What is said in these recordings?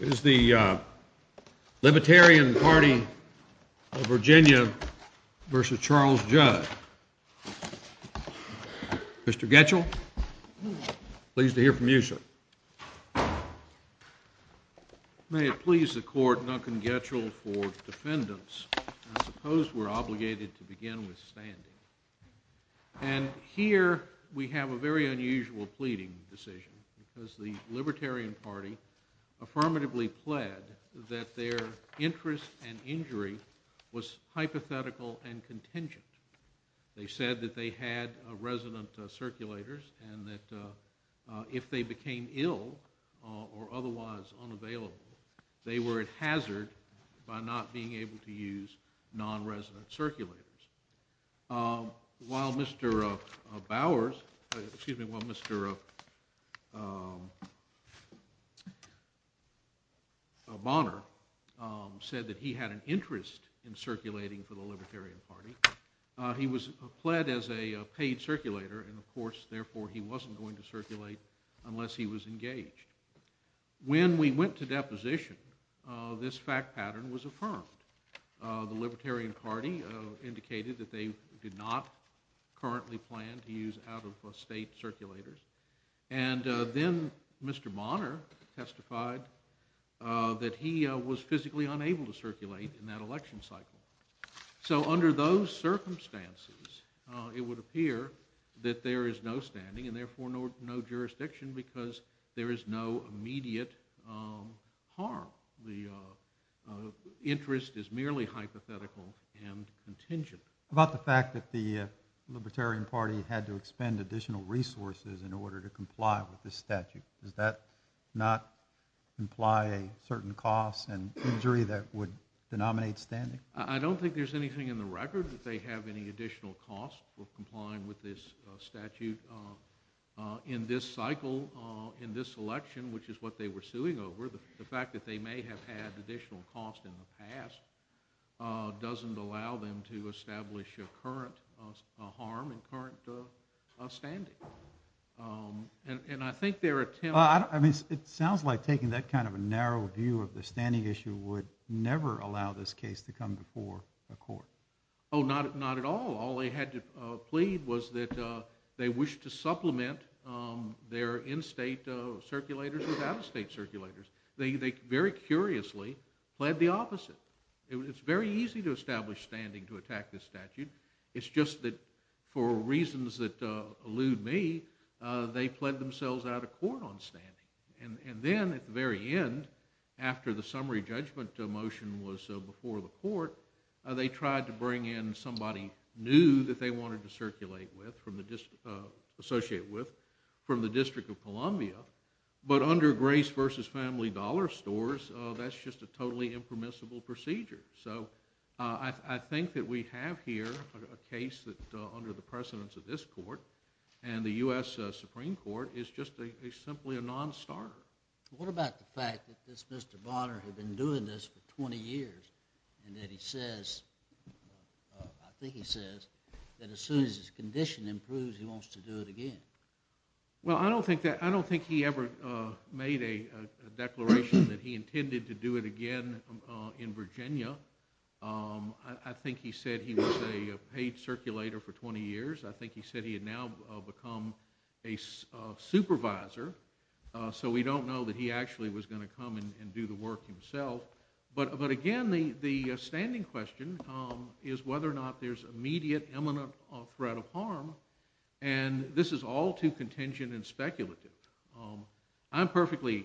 It is the Libertarian Party of Virginia v. Charles Judd. Mr. Getchell, pleased to hear from you, sir. May it please the Court, Duncan Getchell for defendants. I suppose we're obligated to begin with standing. And here we have a very unusual pleading decision because the Libertarian Party affirmatively pled that their interest and injury was hypothetical and contingent. They said that they had resident circulators and that if they became ill or otherwise unavailable, they were at hazard by not being able to use non-resident circulators. While Mr. Bowers, excuse me, while Mr. Bonner said that he had an interest in circulating for the Libertarian Party, he was pled as a paid circulator and, of course, therefore he wasn't going to circulate unless he was engaged. When we went to deposition, this fact pattern was affirmed. The Libertarian Party indicated that they did not currently plan to use out-of-state circulators. And then Mr. Bonner testified that he was physically unable to circulate in that election cycle. So under those circumstances, it would appear that there is no standing and therefore no jurisdiction because there is no immediate harm. The interest is merely hypothetical and contingent. About the fact that the Libertarian Party had to expend additional resources in order to comply with this statute, does that not imply a certain cost and injury that would denominate standing? I don't think there's anything in the record that they have any additional cost for complying with this statute in this cycle, in this election, which is what they were suing over. The fact that they may have had additional cost in the past doesn't allow them to establish a current harm in current standing. And I think their attempt— It sounds like taking that kind of a narrow view of the standing issue would never allow this case to come before a court. Oh, not at all. All they had to plead was that they wished to supplement their in-state circulators with out-of-state circulators. They very curiously pled the opposite. It's very easy to establish standing to attack this statute. It's just that for reasons that elude me, they pled themselves out of court on standing. And then at the very end, after the summary judgment motion was before the court, they tried to bring in somebody new that they wanted to circulate with, associate with, from the District of Columbia. But under Grace v. Family Dollar Stores, that's just a totally impermissible procedure. So I think that we have here a case that, under the precedence of this court and the U.S. Supreme Court, is just simply a non-starter. What about the fact that this Mr. Bonner had been doing this for 20 years and that he says, I think he says, that as soon as his condition improves, he wants to do it again? Well, I don't think he ever made a declaration that he intended to do it again in Virginia. I think he said he was a paid circulator for 20 years. I think he said he had now become a supervisor. So we don't know that he actually was going to come and do the work himself. But again, the standing question is whether or not there's immediate imminent threat of harm. And this is all too contingent and speculative. I'm perfectly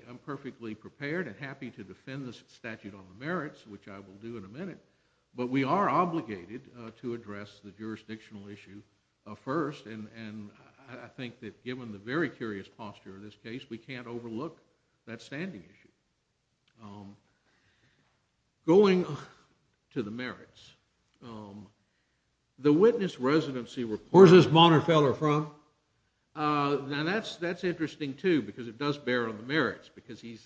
prepared and happy to defend this statute on the merits, which I will do in a minute. But we are obligated to address the jurisdictional issue first. And I think that given the very curious posture of this case, we can't overlook that standing issue. Going to the merits. The witness residency report. Where's this Bonner fellow from? Now, that's interesting, too, because it does bear on the merits. Because he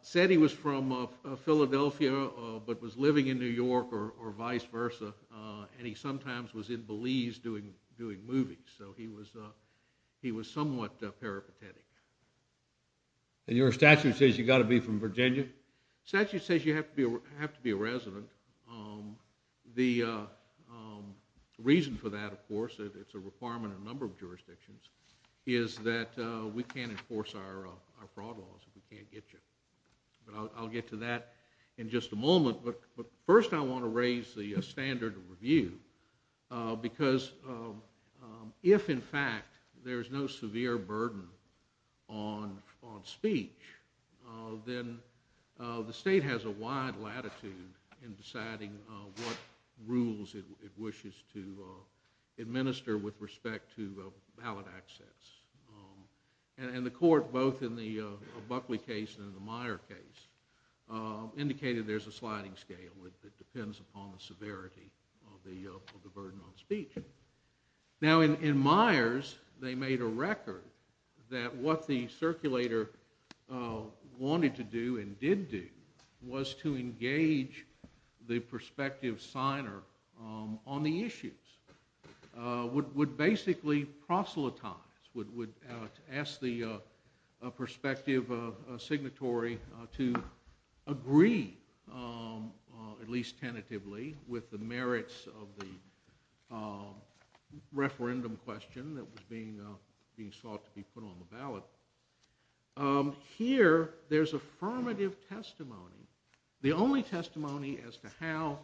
said he was from Philadelphia but was living in New York or vice versa. And he sometimes was in Belize doing movies. So he was somewhat peripatetic. And your statute says you've got to be from Virginia? The statute says you have to be a resident. The reason for that, of course, it's a requirement in a number of jurisdictions, is that we can't enforce our fraud laws. We can't get you. But I'll get to that in just a moment. But first I want to raise the standard of review. Because if, in fact, there's no severe burden on speech, then the state has a wide latitude in deciding what rules it wishes to administer with respect to ballot access. And the court, both in the Buckley case and in the Meyer case, indicated there's a sliding scale. It depends upon the severity of the burden on speech. Now, in Meyer's, they made a record that what the circulator wanted to do and did do was to engage the prospective signer on the issues, would basically proselytize, would ask the prospective signatory to agree, at least tentatively, with the merits of the referendum question that was being sought to be put on the ballot. Here, there's affirmative testimony. The only testimony as to how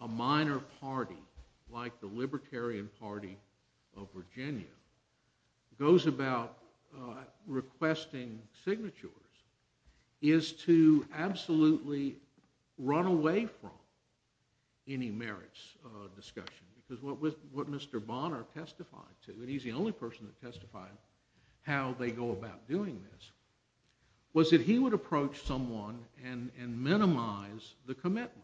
a minor party, like the Libertarian Party of Virginia, goes about requesting signatures is to absolutely run away from any merits discussion. Because what Mr. Bonner testified to, and he's the only person that testified how they go about doing this, was that he would approach someone and minimize the commitment.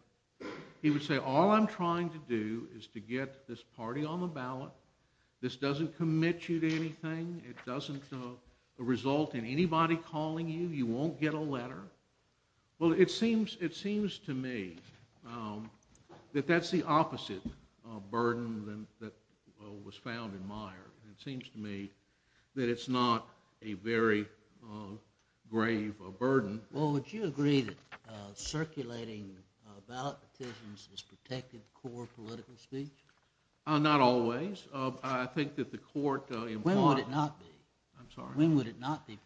He would say, all I'm trying to do is to get this party on the ballot. This doesn't commit you to anything. It doesn't result in anybody calling you. You won't get a letter. Well, it seems to me that that's the opposite burden that was found in Meyer. It seems to me that it's not a very grave burden. Well, would you agree that circulating ballot decisions has protected core political speech? Not always. I think that the court— When would it not be? I'm sorry? When would it not be?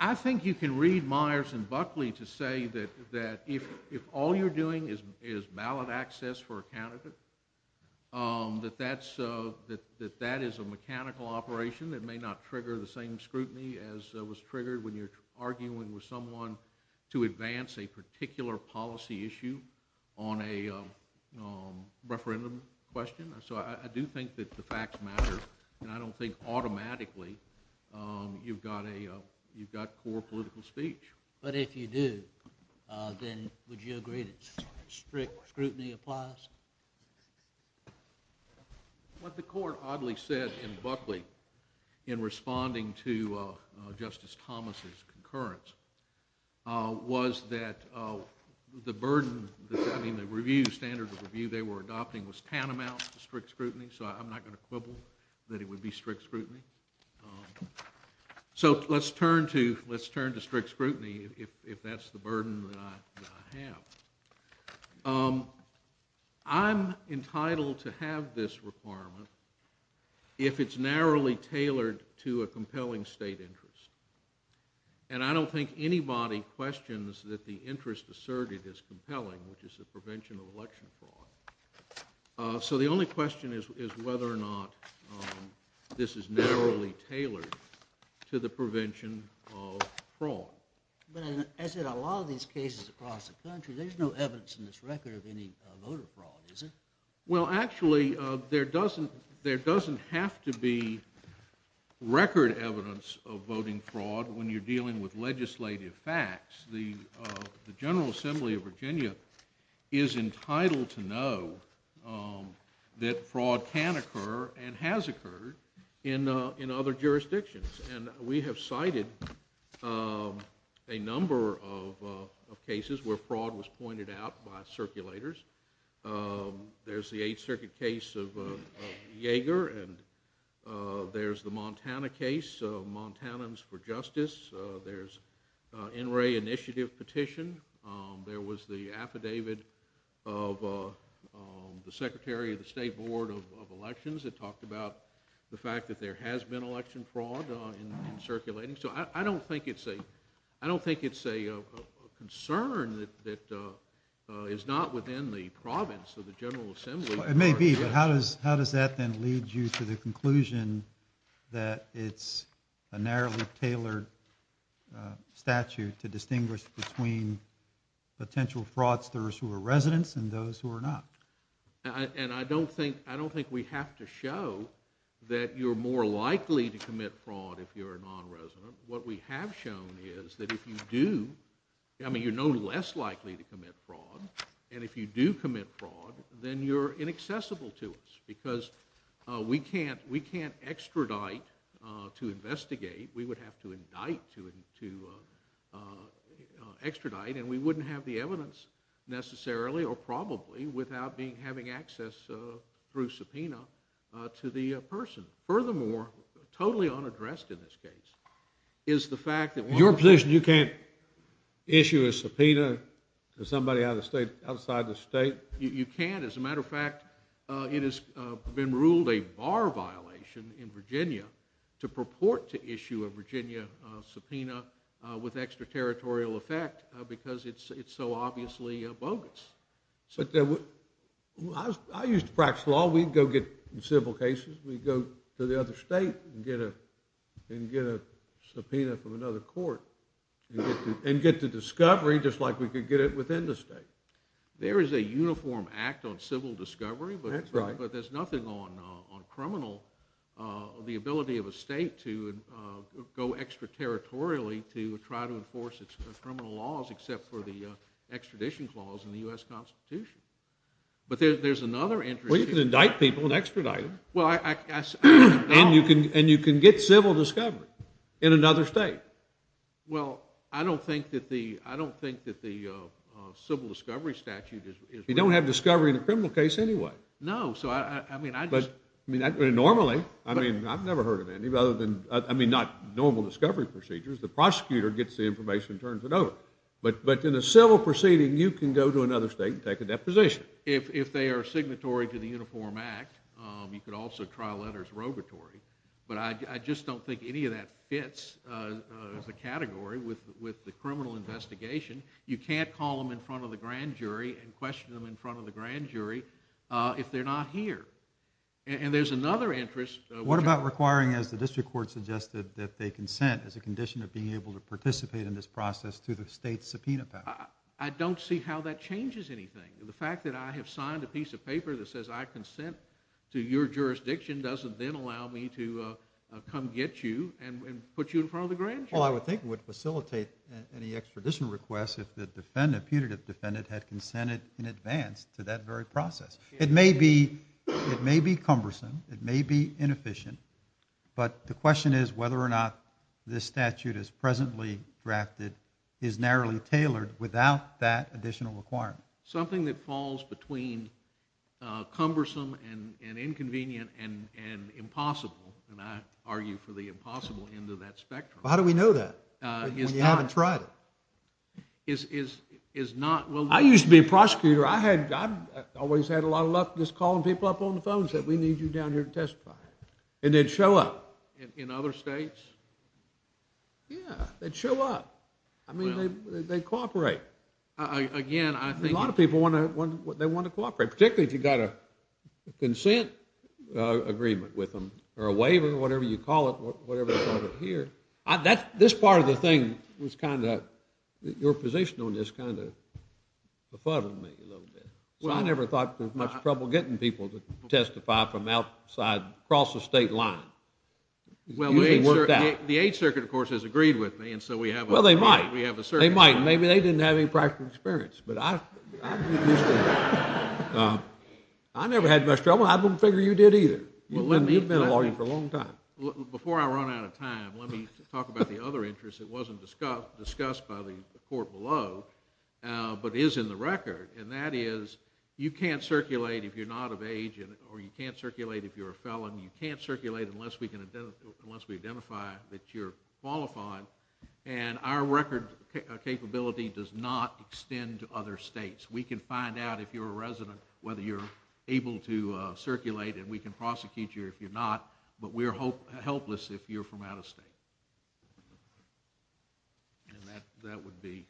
I think you can read Myers and Buckley to say that if all you're doing is ballot access for a candidate, that that is a mechanical operation that may not trigger the same scrutiny as was triggered when you're arguing with someone to advance a particular policy issue on a referendum question. So I do think that the facts matter, and I don't think automatically you've got core political speech. But if you do, then would you agree that strict scrutiny applies? What the court oddly said in Buckley in responding to Justice Thomas' concurrence was that the burden, I mean the standard of review they were adopting was tantamount to strict scrutiny, so I'm not going to quibble that it would be strict scrutiny. So let's turn to strict scrutiny if that's the burden that I have. I'm entitled to have this requirement if it's narrowly tailored to a compelling state interest. And I don't think anybody questions that the interest asserted is compelling, which is the prevention of election fraud. So the only question is whether or not this is narrowly tailored to the prevention of fraud. But as in a lot of these cases across the country, there's no evidence in this record of any voter fraud, is there? Well, actually, there doesn't have to be record evidence of voting fraud when you're dealing with legislative facts. The General Assembly of Virginia is entitled to know that fraud can occur and has occurred in other jurisdictions. And we have cited a number of cases where fraud was pointed out by circulators. There's the Eighth Circuit case of Yeager, and there's the Montana case, Montanans for Justice. There's NRA Initiative petition. There was the affidavit of the Secretary of the State Board of Elections that talked about the fact that there has been election fraud in circulating. So I don't think it's a concern that is not within the province of the General Assembly. It may be, but how does that then lead you to the conclusion that it's a narrowly tailored statute to distinguish between potential fraudsters who are residents and those who are not? And I don't think we have to show that you're more likely to commit fraud if you're a non-resident. What we have shown is that if you do, I mean, you're no less likely to commit fraud, and if you do commit fraud, then you're inaccessible to us because we can't extradite to investigate. We would have to indict to extradite, and we wouldn't have the evidence necessarily or probably without having access through subpoena to the person. Furthermore, totally unaddressed in this case, is the fact that one of the... In your position, you can't issue a subpoena to somebody outside the state? You can't. As a matter of fact, it has been ruled a bar violation in Virginia to purport to issue a Virginia subpoena with extraterritorial effect because it's so obviously bogus. I used to practice law. We'd go get civil cases. We'd go to the other state and get a subpoena from another court and get the discovery just like we could get it within the state. There is a uniform act on civil discovery, but there's nothing on criminal, the ability of a state to go extraterritorially to try to enforce its criminal laws except for the extradition clause in the U.S. Constitution. But there's another interest. Well, you can indict people and extradite them, and you can get civil discovery in another state. Well, I don't think that the civil discovery statute is... You don't have discovery in a criminal case anyway. No, so I mean, I just... Normally, I mean, I've never heard of any, I mean, not normal discovery procedures. The prosecutor gets the information and turns it over. But in a civil proceeding, you can go to another state and take a deposition. If they are signatory to the uniform act, you could also trial letters robatory. But I just don't think any of that fits the category with the criminal investigation. You can't call them in front of the grand jury and question them in front of the grand jury if they're not here. And there's another interest. What about requiring, as the district court suggested, that they consent as a condition of being able to participate in this process through the state's subpoena power? I don't see how that changes anything. The fact that I have signed a piece of paper that says I consent to your jurisdiction doesn't then allow me to come get you and put you in front of the grand jury. Well, I would think it would facilitate any extradition request if the defendant, punitive defendant, had consented in advance to that very process. It may be cumbersome. It may be inefficient. But the question is whether or not this statute as presently drafted is narrowly tailored without that additional requirement. Something that falls between cumbersome and inconvenient and impossible, and I argue for the impossible end of that spectrum. How do we know that when you haven't tried it? Is not... I used to be a prosecutor. I always had a lot of luck just calling people up on the phone and saying, we need you down here to testify. And they'd show up. In other states? Yeah, they'd show up. I mean, they cooperate. Again, I think... A lot of people want to cooperate, particularly if you've got a consent agreement with them or a waiver, whatever you call it, whatever you call it here. This part of the thing was kind of... Your position on this kind of befuddled me a little bit. I never thought there was much trouble getting people to testify from outside, across the state line. It usually worked out. The Eighth Circuit, of course, has agreed with me, and so we have a... Well, they might. Maybe they didn't have any practical experience. I never had much trouble. I don't figure you did either. You've been a lawyer for a long time. Before I run out of time, let me talk about the other interest that wasn't discussed by the court below but is in the record, and that is you can't circulate if you're not of age, or you can't circulate if you're a felon. You can't circulate unless we identify that you're qualified, and our record capability does not extend to other states. We can find out if you're a resident, whether you're able to circulate, and we can prosecute you if you're not, but we're helpless if you're from out of state. And that would be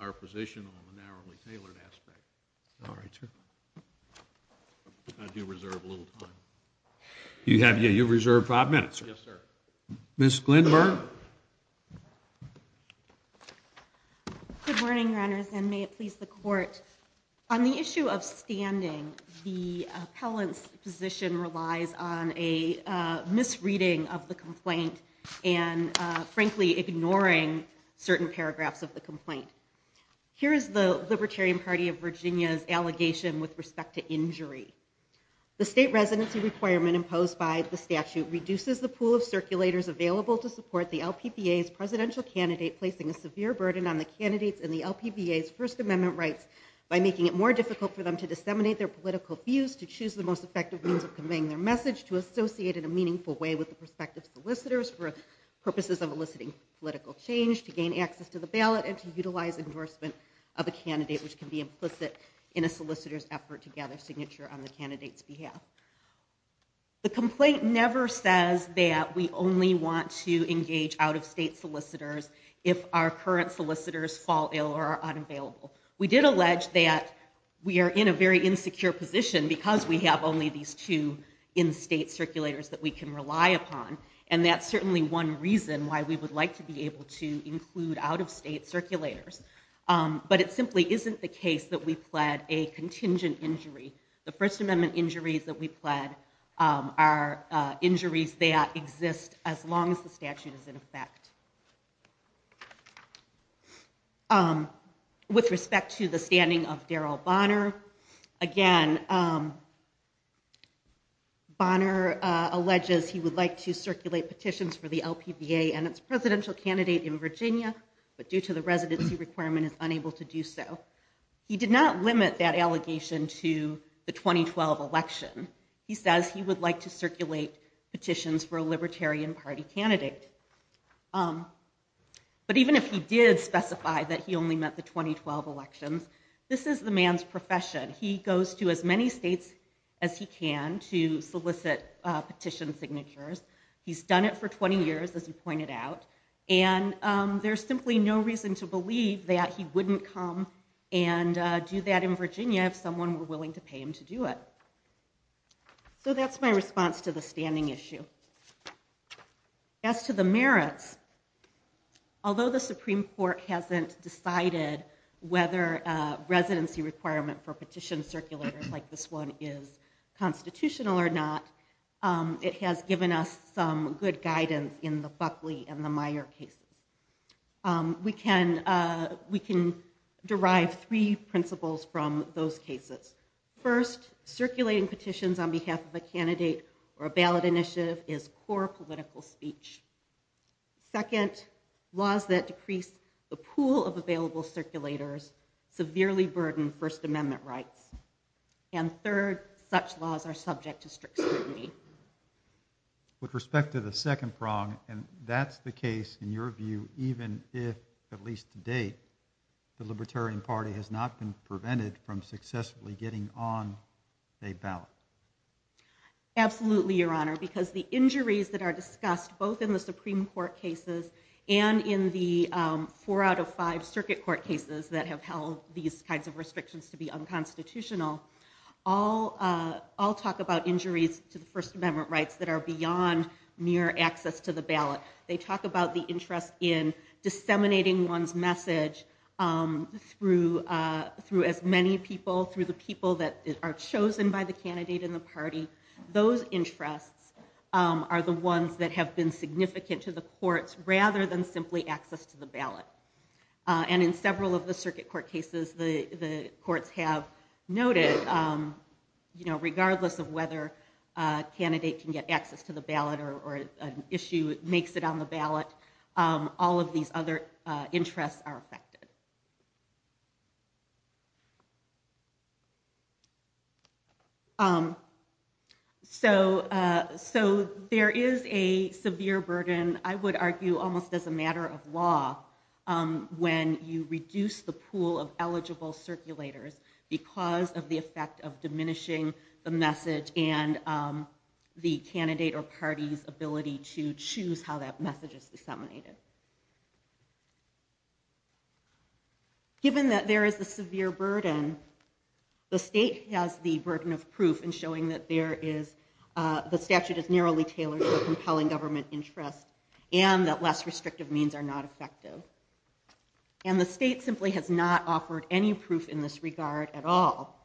our position on the narrowly tailored aspect. All right, sir. I do reserve a little time. Yeah, you reserve five minutes, sir. Yes, sir. Ms. Glinburn? Good morning, Your Honors, and may it please the Court. On the issue of standing, the appellant's position relies on a misreading of the complaint, and, frankly, ignoring certain paragraphs of the complaint. Here is the Libertarian Party of Virginia's allegation with respect to injury. The state residency requirement imposed by the statute reduces the pool of circulators available to support the LPBA's presidential candidate placing a severe burden on the candidates in the LPBA's First Amendment rights by making it more difficult for them to disseminate their political views, to choose the most effective means of conveying their message, to associate in a meaningful way with the prospective solicitors for purposes of eliciting political change, to gain access to the ballot, and to utilize endorsement of a candidate which can be implicit in a solicitor's effort to gather signature on the candidate's behalf. The complaint never says that we only want to engage out-of-state solicitors if our current solicitors fall ill or are unavailable. We did allege that we are in a very insecure position because we have only these two in-state circulators that we can rely upon and that's certainly one reason why we would like to be able to include out-of-state circulators. But it simply isn't the case that we pled a contingent injury. The First Amendment injuries that we pled are injuries that exist as long as the statute is in effect. With respect to the standing of Darrell Bonner, again, Bonner alleges he would like to circulate petitions for the LPBA and its presidential candidate in Virginia but due to the residency requirement is unable to do so. He did not limit that allegation to the 2012 election. He says he would like to circulate petitions for a Libertarian Party candidate. But even if he did specify that he only meant the 2012 elections, this is the man's profession. He goes to as many states as he can to solicit petition signatures. He's done it for 20 years, as you pointed out, and there's simply no reason to believe that he wouldn't come and do that in Virginia if someone were willing to pay him to do it. So that's my response to the standing issue. As to the merits, although the Supreme Court hasn't decided whether residency requirement for petition circulators like this one is constitutional or not, it has given us some good guidance in the Buckley and the Meyer cases. We can derive three principles from those cases. First, circulating petitions on behalf of a candidate or a ballot initiative is core political speech. Second, laws that decrease the pool of available circulators severely burden First Amendment rights. And third, such laws are subject to strict scrutiny. With respect to the second prong, and that's the case in your view, even if at least to date, the Libertarian Party has not been prevented from successfully getting on a ballot. Absolutely, Your Honor, because the injuries that are discussed both in the Supreme Court cases and in the four out of five circuit court cases that have held these kinds of restrictions to be unconstitutional all talk about injuries to the First Amendment rights that are beyond mere access to the ballot. They talk about the interest in disseminating one's message through as many people, through the people that are chosen by the candidate and the party. Those interests are the ones that have been significant to the courts rather than simply access to the ballot. And in several of the circuit court cases, the courts have noted regardless of whether a candidate can get access to the ballot or an issue makes it on the ballot, all of these other interests are affected. So there is a severe burden, I would argue, almost as a matter of law, when you reduce the pool of eligible circulators because of the effect of diminishing the message and the candidate or party's ability to choose how that message is disseminated. Given that there is a severe burden the state has the burden of proof in showing that there is, the statute is narrowly tailored for compelling government interest and that less restrictive means are not effective. And the state simply has not offered any proof in this regard at all.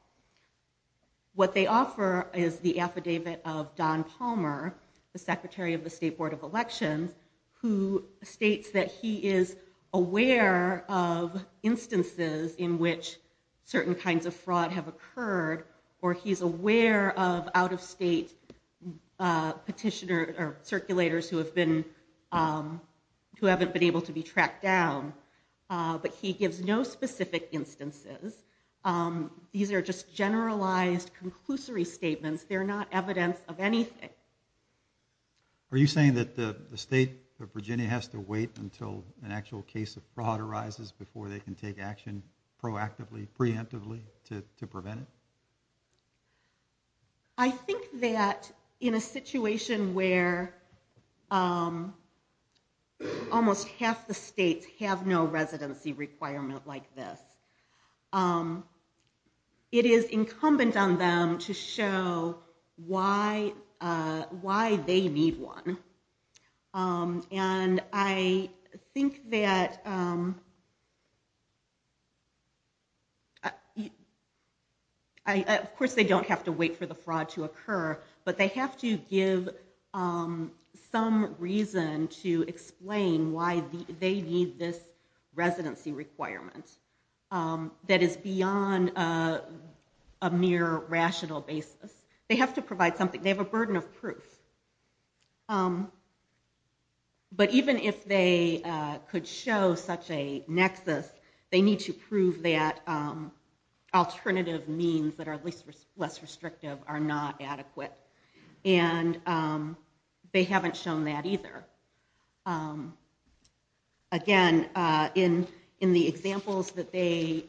What they offer is the affidavit of Don Palmer, the Secretary of the State Board of Elections, who states that he is aware of instances in which certain kinds of fraud have occurred, or he's aware of out-of-state petitioners or circulators who have been who haven't been able to be tracked down, but he gives no specific instances. These are just generalized, conclusory statements. They're not evidence of anything. Are you saying that the state of Virginia has to wait until an actual case of fraud arises before they can take action proactively, preemptively, to prevent it? I think that in a situation where almost half the states have no residency requirement like this, it is incumbent on them to show why they need one. And I think that of course they don't have to wait for the fraud to occur, but they have to give some reason to explain why they need this residency requirement that is beyond a mere rational basis. They have to provide something. They have a burden of proof. But even if they could show such a nexus, they need to prove that alternative means that are at least less restrictive are not adequate. And they haven't shown that either. Again, in the examples that they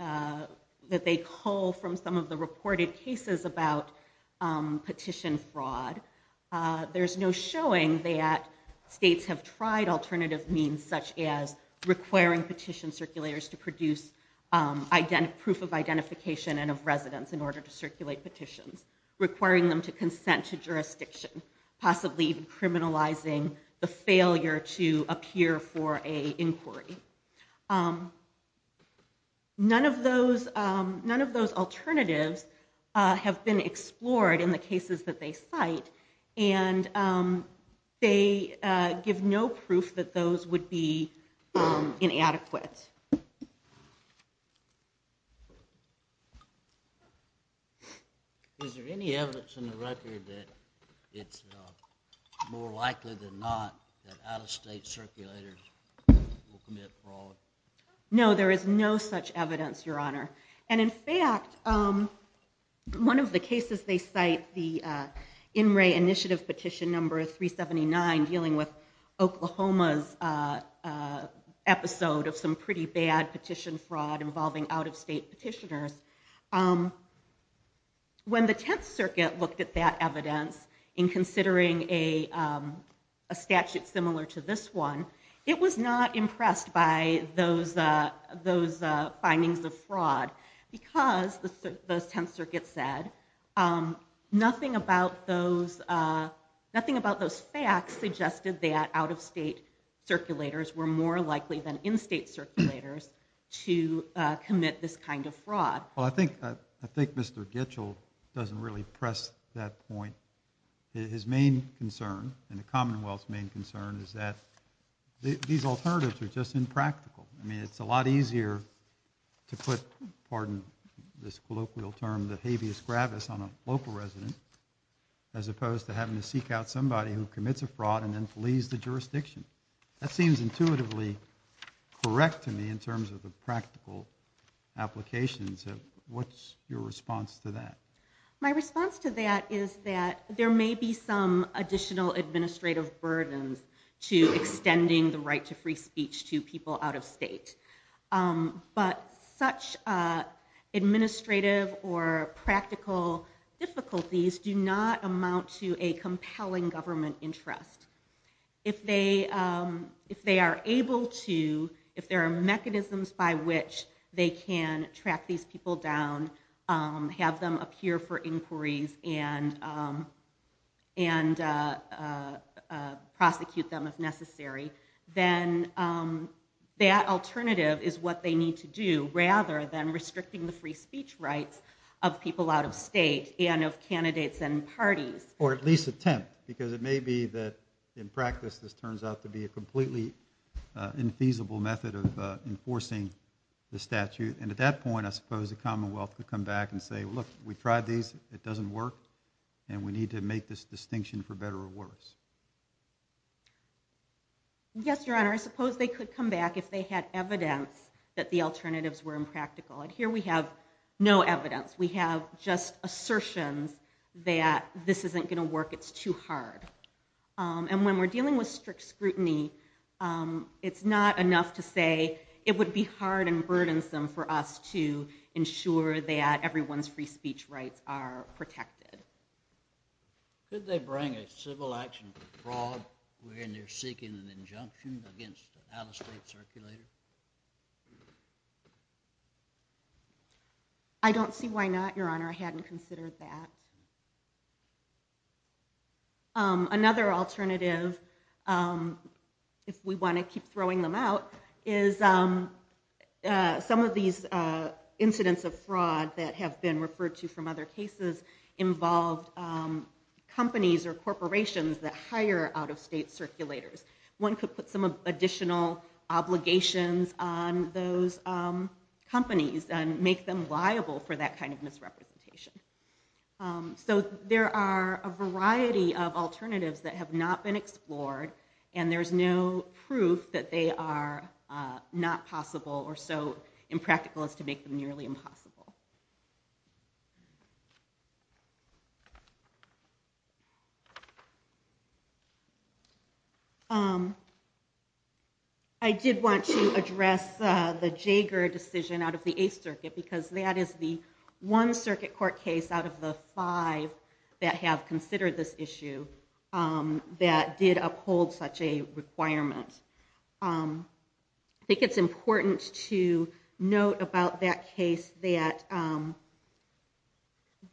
cull from some of the reported cases about petition fraud, there's no showing that states have tried alternative means such as requiring petition circulators to produce proof of identification and of residence in order to circulate petitions, requiring them to consent to jurisdiction, possibly criminalizing the failure to appear for an inquiry. None of those alternatives have been explored in the cases that they cite, and they give no proof that those would be inadequate. Is there any evidence in the record that it's more likely than not that out-of-state circulators will commit fraud? No, there is no such evidence, Your Honor. And in fact, one of the cases they cite, the In Re Initiative petition number 379, dealing with Oklahoma's episode of some pretty bad petition fraud involving out-of-state petitioners, when the Tenth Circuit looked at that evidence in considering a statute similar to this one, it was not impressed by those findings of fraud because, the Tenth Circuit said, nothing about those facts suggested that out-of-state circulators were more likely than in-state circulators to commit this kind of fraud. I think Mr. Gitchell doesn't really press that point. His main concern, and the Commonwealth's main concern, is that these alternatives are just impractical. I mean, it's a lot easier to put, pardon this colloquial term, the habeas gravis on a local resident as opposed to having to seek out somebody who commits a fraud and then flees the jurisdiction. That seems intuitively correct to me in terms of the practical applications. What's your response to that? My response to that is that there may be some additional administrative burdens to extending the right to free speech to people out-of-state. But such administrative or practical difficulties do not amount to a compelling government interest. If they are able to, if there are mechanisms by which they can track these people down, have them appear for inquiries, and prosecute them if necessary, then that alternative is what they need to do rather than restricting the free speech rights of people out-of-state and of candidates and parties. Or at least attempt, because it may be that in practice this turns out to be a completely infeasible method of enforcing the statute. And at that point, I suppose the Commonwealth could come back and say, look, we tried these, it doesn't work, and we need to make this distinction for better or worse. Yes, Your Honor, I suppose they could come back if they had evidence that the alternatives were impractical. And here we have no evidence. We have just assertions that this isn't going to work, it's too hard. And when we're dealing with strict scrutiny, it's not enough to say it would be hard and burdensome for us to ensure that everyone's free speech rights are protected. Could they bring a civil action for fraud when they're seeking an injunction against an out-of-state circulator? I don't see why not, Your Honor. I hadn't considered that. Another alternative, if we want to keep throwing them out, is some of these incidents of fraud that have been involved companies or corporations that hire out-of-state circulators. One could put some additional obligations on those companies and make them liable for that kind of misrepresentation. So there are a variety of alternatives that have not been explored, and there's no proof that they are not possible or so impractical as to make them nearly impossible. Thank you. I did want to address the Jaeger decision out of the Eighth Circuit, because that is the one circuit court case out of the five that have considered this issue that did uphold such a requirement. I think it's important to note about that case that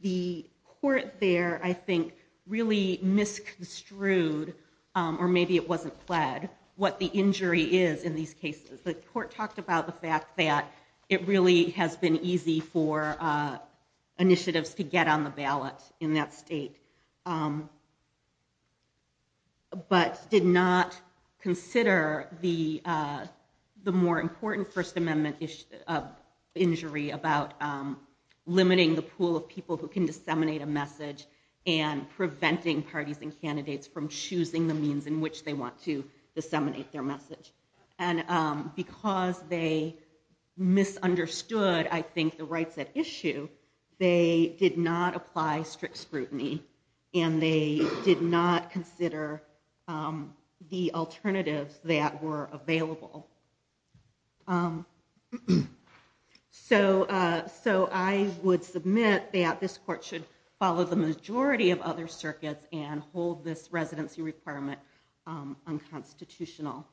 the court there, I think, really misconstrued or maybe it wasn't pled, what the injury is in these cases. The court talked about the fact that it really has been easy for initiatives to get on the ballot in that state, but did not consider the more important First Amendment injury about limiting the pool of people who can disseminate a message and preventing parties and candidates from choosing the means in which they want to disseminate their message. And because they misunderstood, I think, the rights at issue, they did not apply strict scrutiny, and they did not consider the alternatives that were available. So I would submit that this court should follow the majority of other circuits and hold this residency requirement unconstitutional.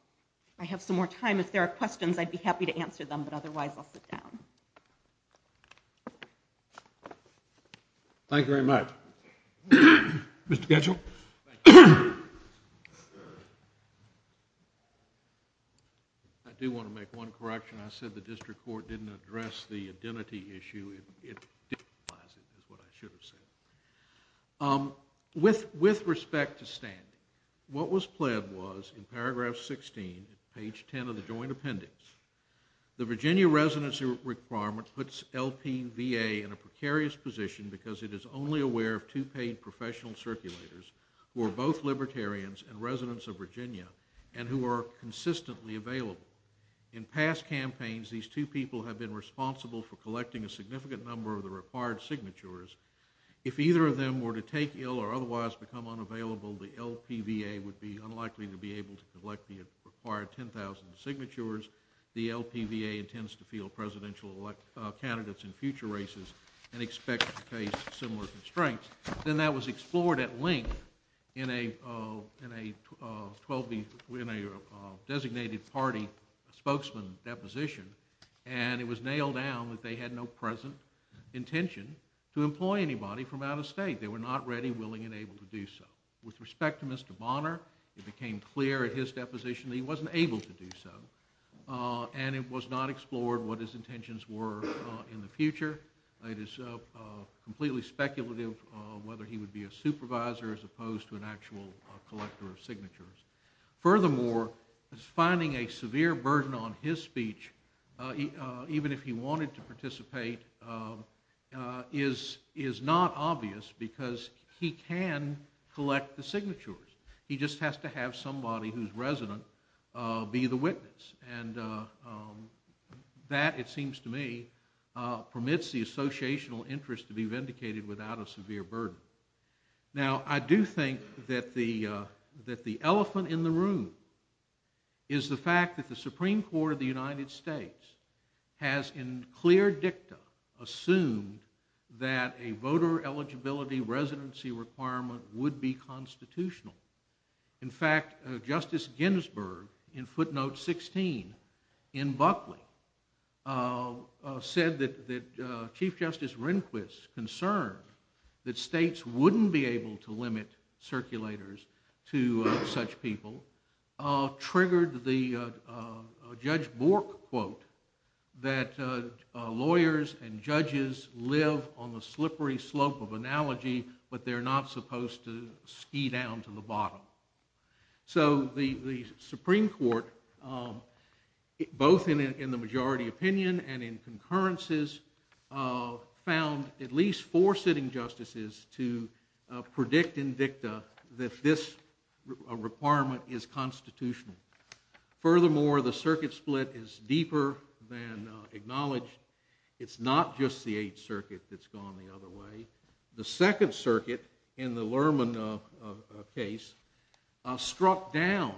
I have some more time. If there are questions, I'd be happy to answer them, but otherwise I'll sit down. Thank you very much. Mr. Ketchel? I do want to make one correction. I said the district court didn't address the identity issue. That's what I should have said. With respect to standing, what was pled was, in paragraph 16, page 10 of the joint appendix, the Virginia residency requirement puts LPVA in a precarious position because it is only aware of two paid professional circulators who are both libertarians and residents of Virginia and who are consistently available. In past campaigns, these two people have been responsible for collecting a significant number of the required signatures. If either of them were to take ill or otherwise become unavailable, the LPVA would be unlikely to be able to collect the required 10,000 signatures. The LPVA intends to field presidential candidates in future races and expect to face similar constraints. Then that was explored at length in a designated party spokesman deposition and it was nailed down that they had no present intention to employ anybody from out of state. They were not ready, willing, and able to do so. With respect to Mr. Bonner, it became clear at his deposition that he wasn't able to do so and it was not explored what his intentions were in the future. It is completely speculative whether he would be a supervisor as opposed to an actual collector of signatures. Furthermore, finding a severe burden on his speech even if he wanted to participate is not obvious because he can collect the signatures. He just has to have somebody whose resident be the witness and that, it seems to me, permits the associational interest to be vindicated without a severe burden. Now, I do think that the elephant in the room is the fact that the Supreme Court of the United States has in clear dicta assumed that a voter eligibility residency requirement would be constitutional. In fact, Justice Ginsburg in footnote 16 in Buckley said that Chief Justice Rehnquist concern that states wouldn't be able to limit circulators to such people triggered the Judge Bork quote that lawyers and judges live on the slippery slope of analogy but they're not supposed to ski down to the bottom. So, the Supreme Court both in the majority opinion and in concurrences found at least four sitting justices to predict in dicta that this requirement is constitutional. Furthermore, the circuit split is deeper than acknowledged. It's not just the Eighth Circuit that's gone the other way. The Second Circuit in the Lerman case struck down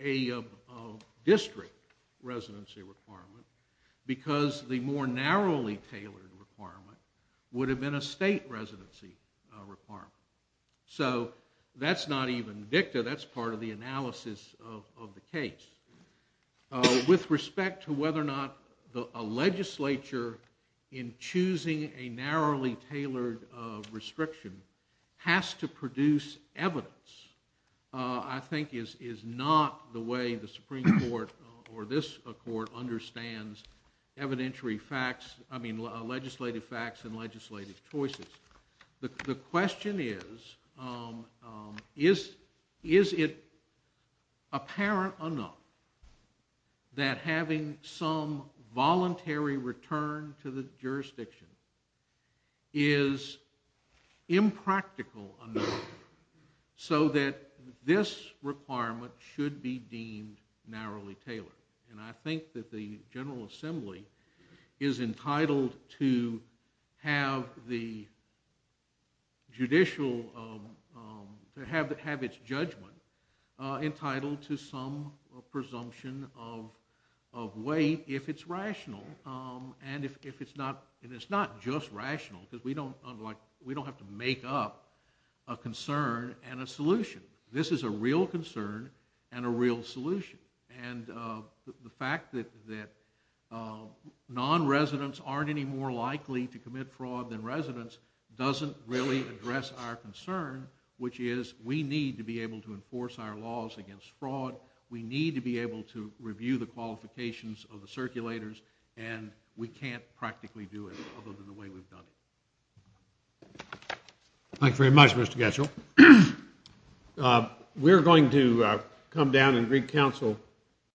a district residency requirement because the more narrowly tailored requirement would have been a state residency requirement. So, that's not even dicta, that's part of the analysis of the case. With respect to whether or not a legislature in choosing a narrowly tailored restriction has to produce evidence I think is not the way the Supreme Court or this court understands evidentiary facts, I mean legislative facts and legislative choices. The question is is it apparent enough that having some voluntary return to the jurisdiction is impractical enough so that this requirement should be deemed narrowly tailored. And I think that the General Assembly is entitled to have the judicial have its judgment entitled to some presumption of weight if it's rational and if it's not and it's not just rational because we don't have to make up a concern and a solution. This is a real concern and a real solution and the fact that non-residents aren't any more likely to commit fraud than residents doesn't really address our concern which is we need to be able to enforce our laws against fraud, we need to be able to review the qualifications of the circulators and we can't practically do it other than the way we've done it. Thank you very much Mr. Getchell. We're going to come down and reconcile.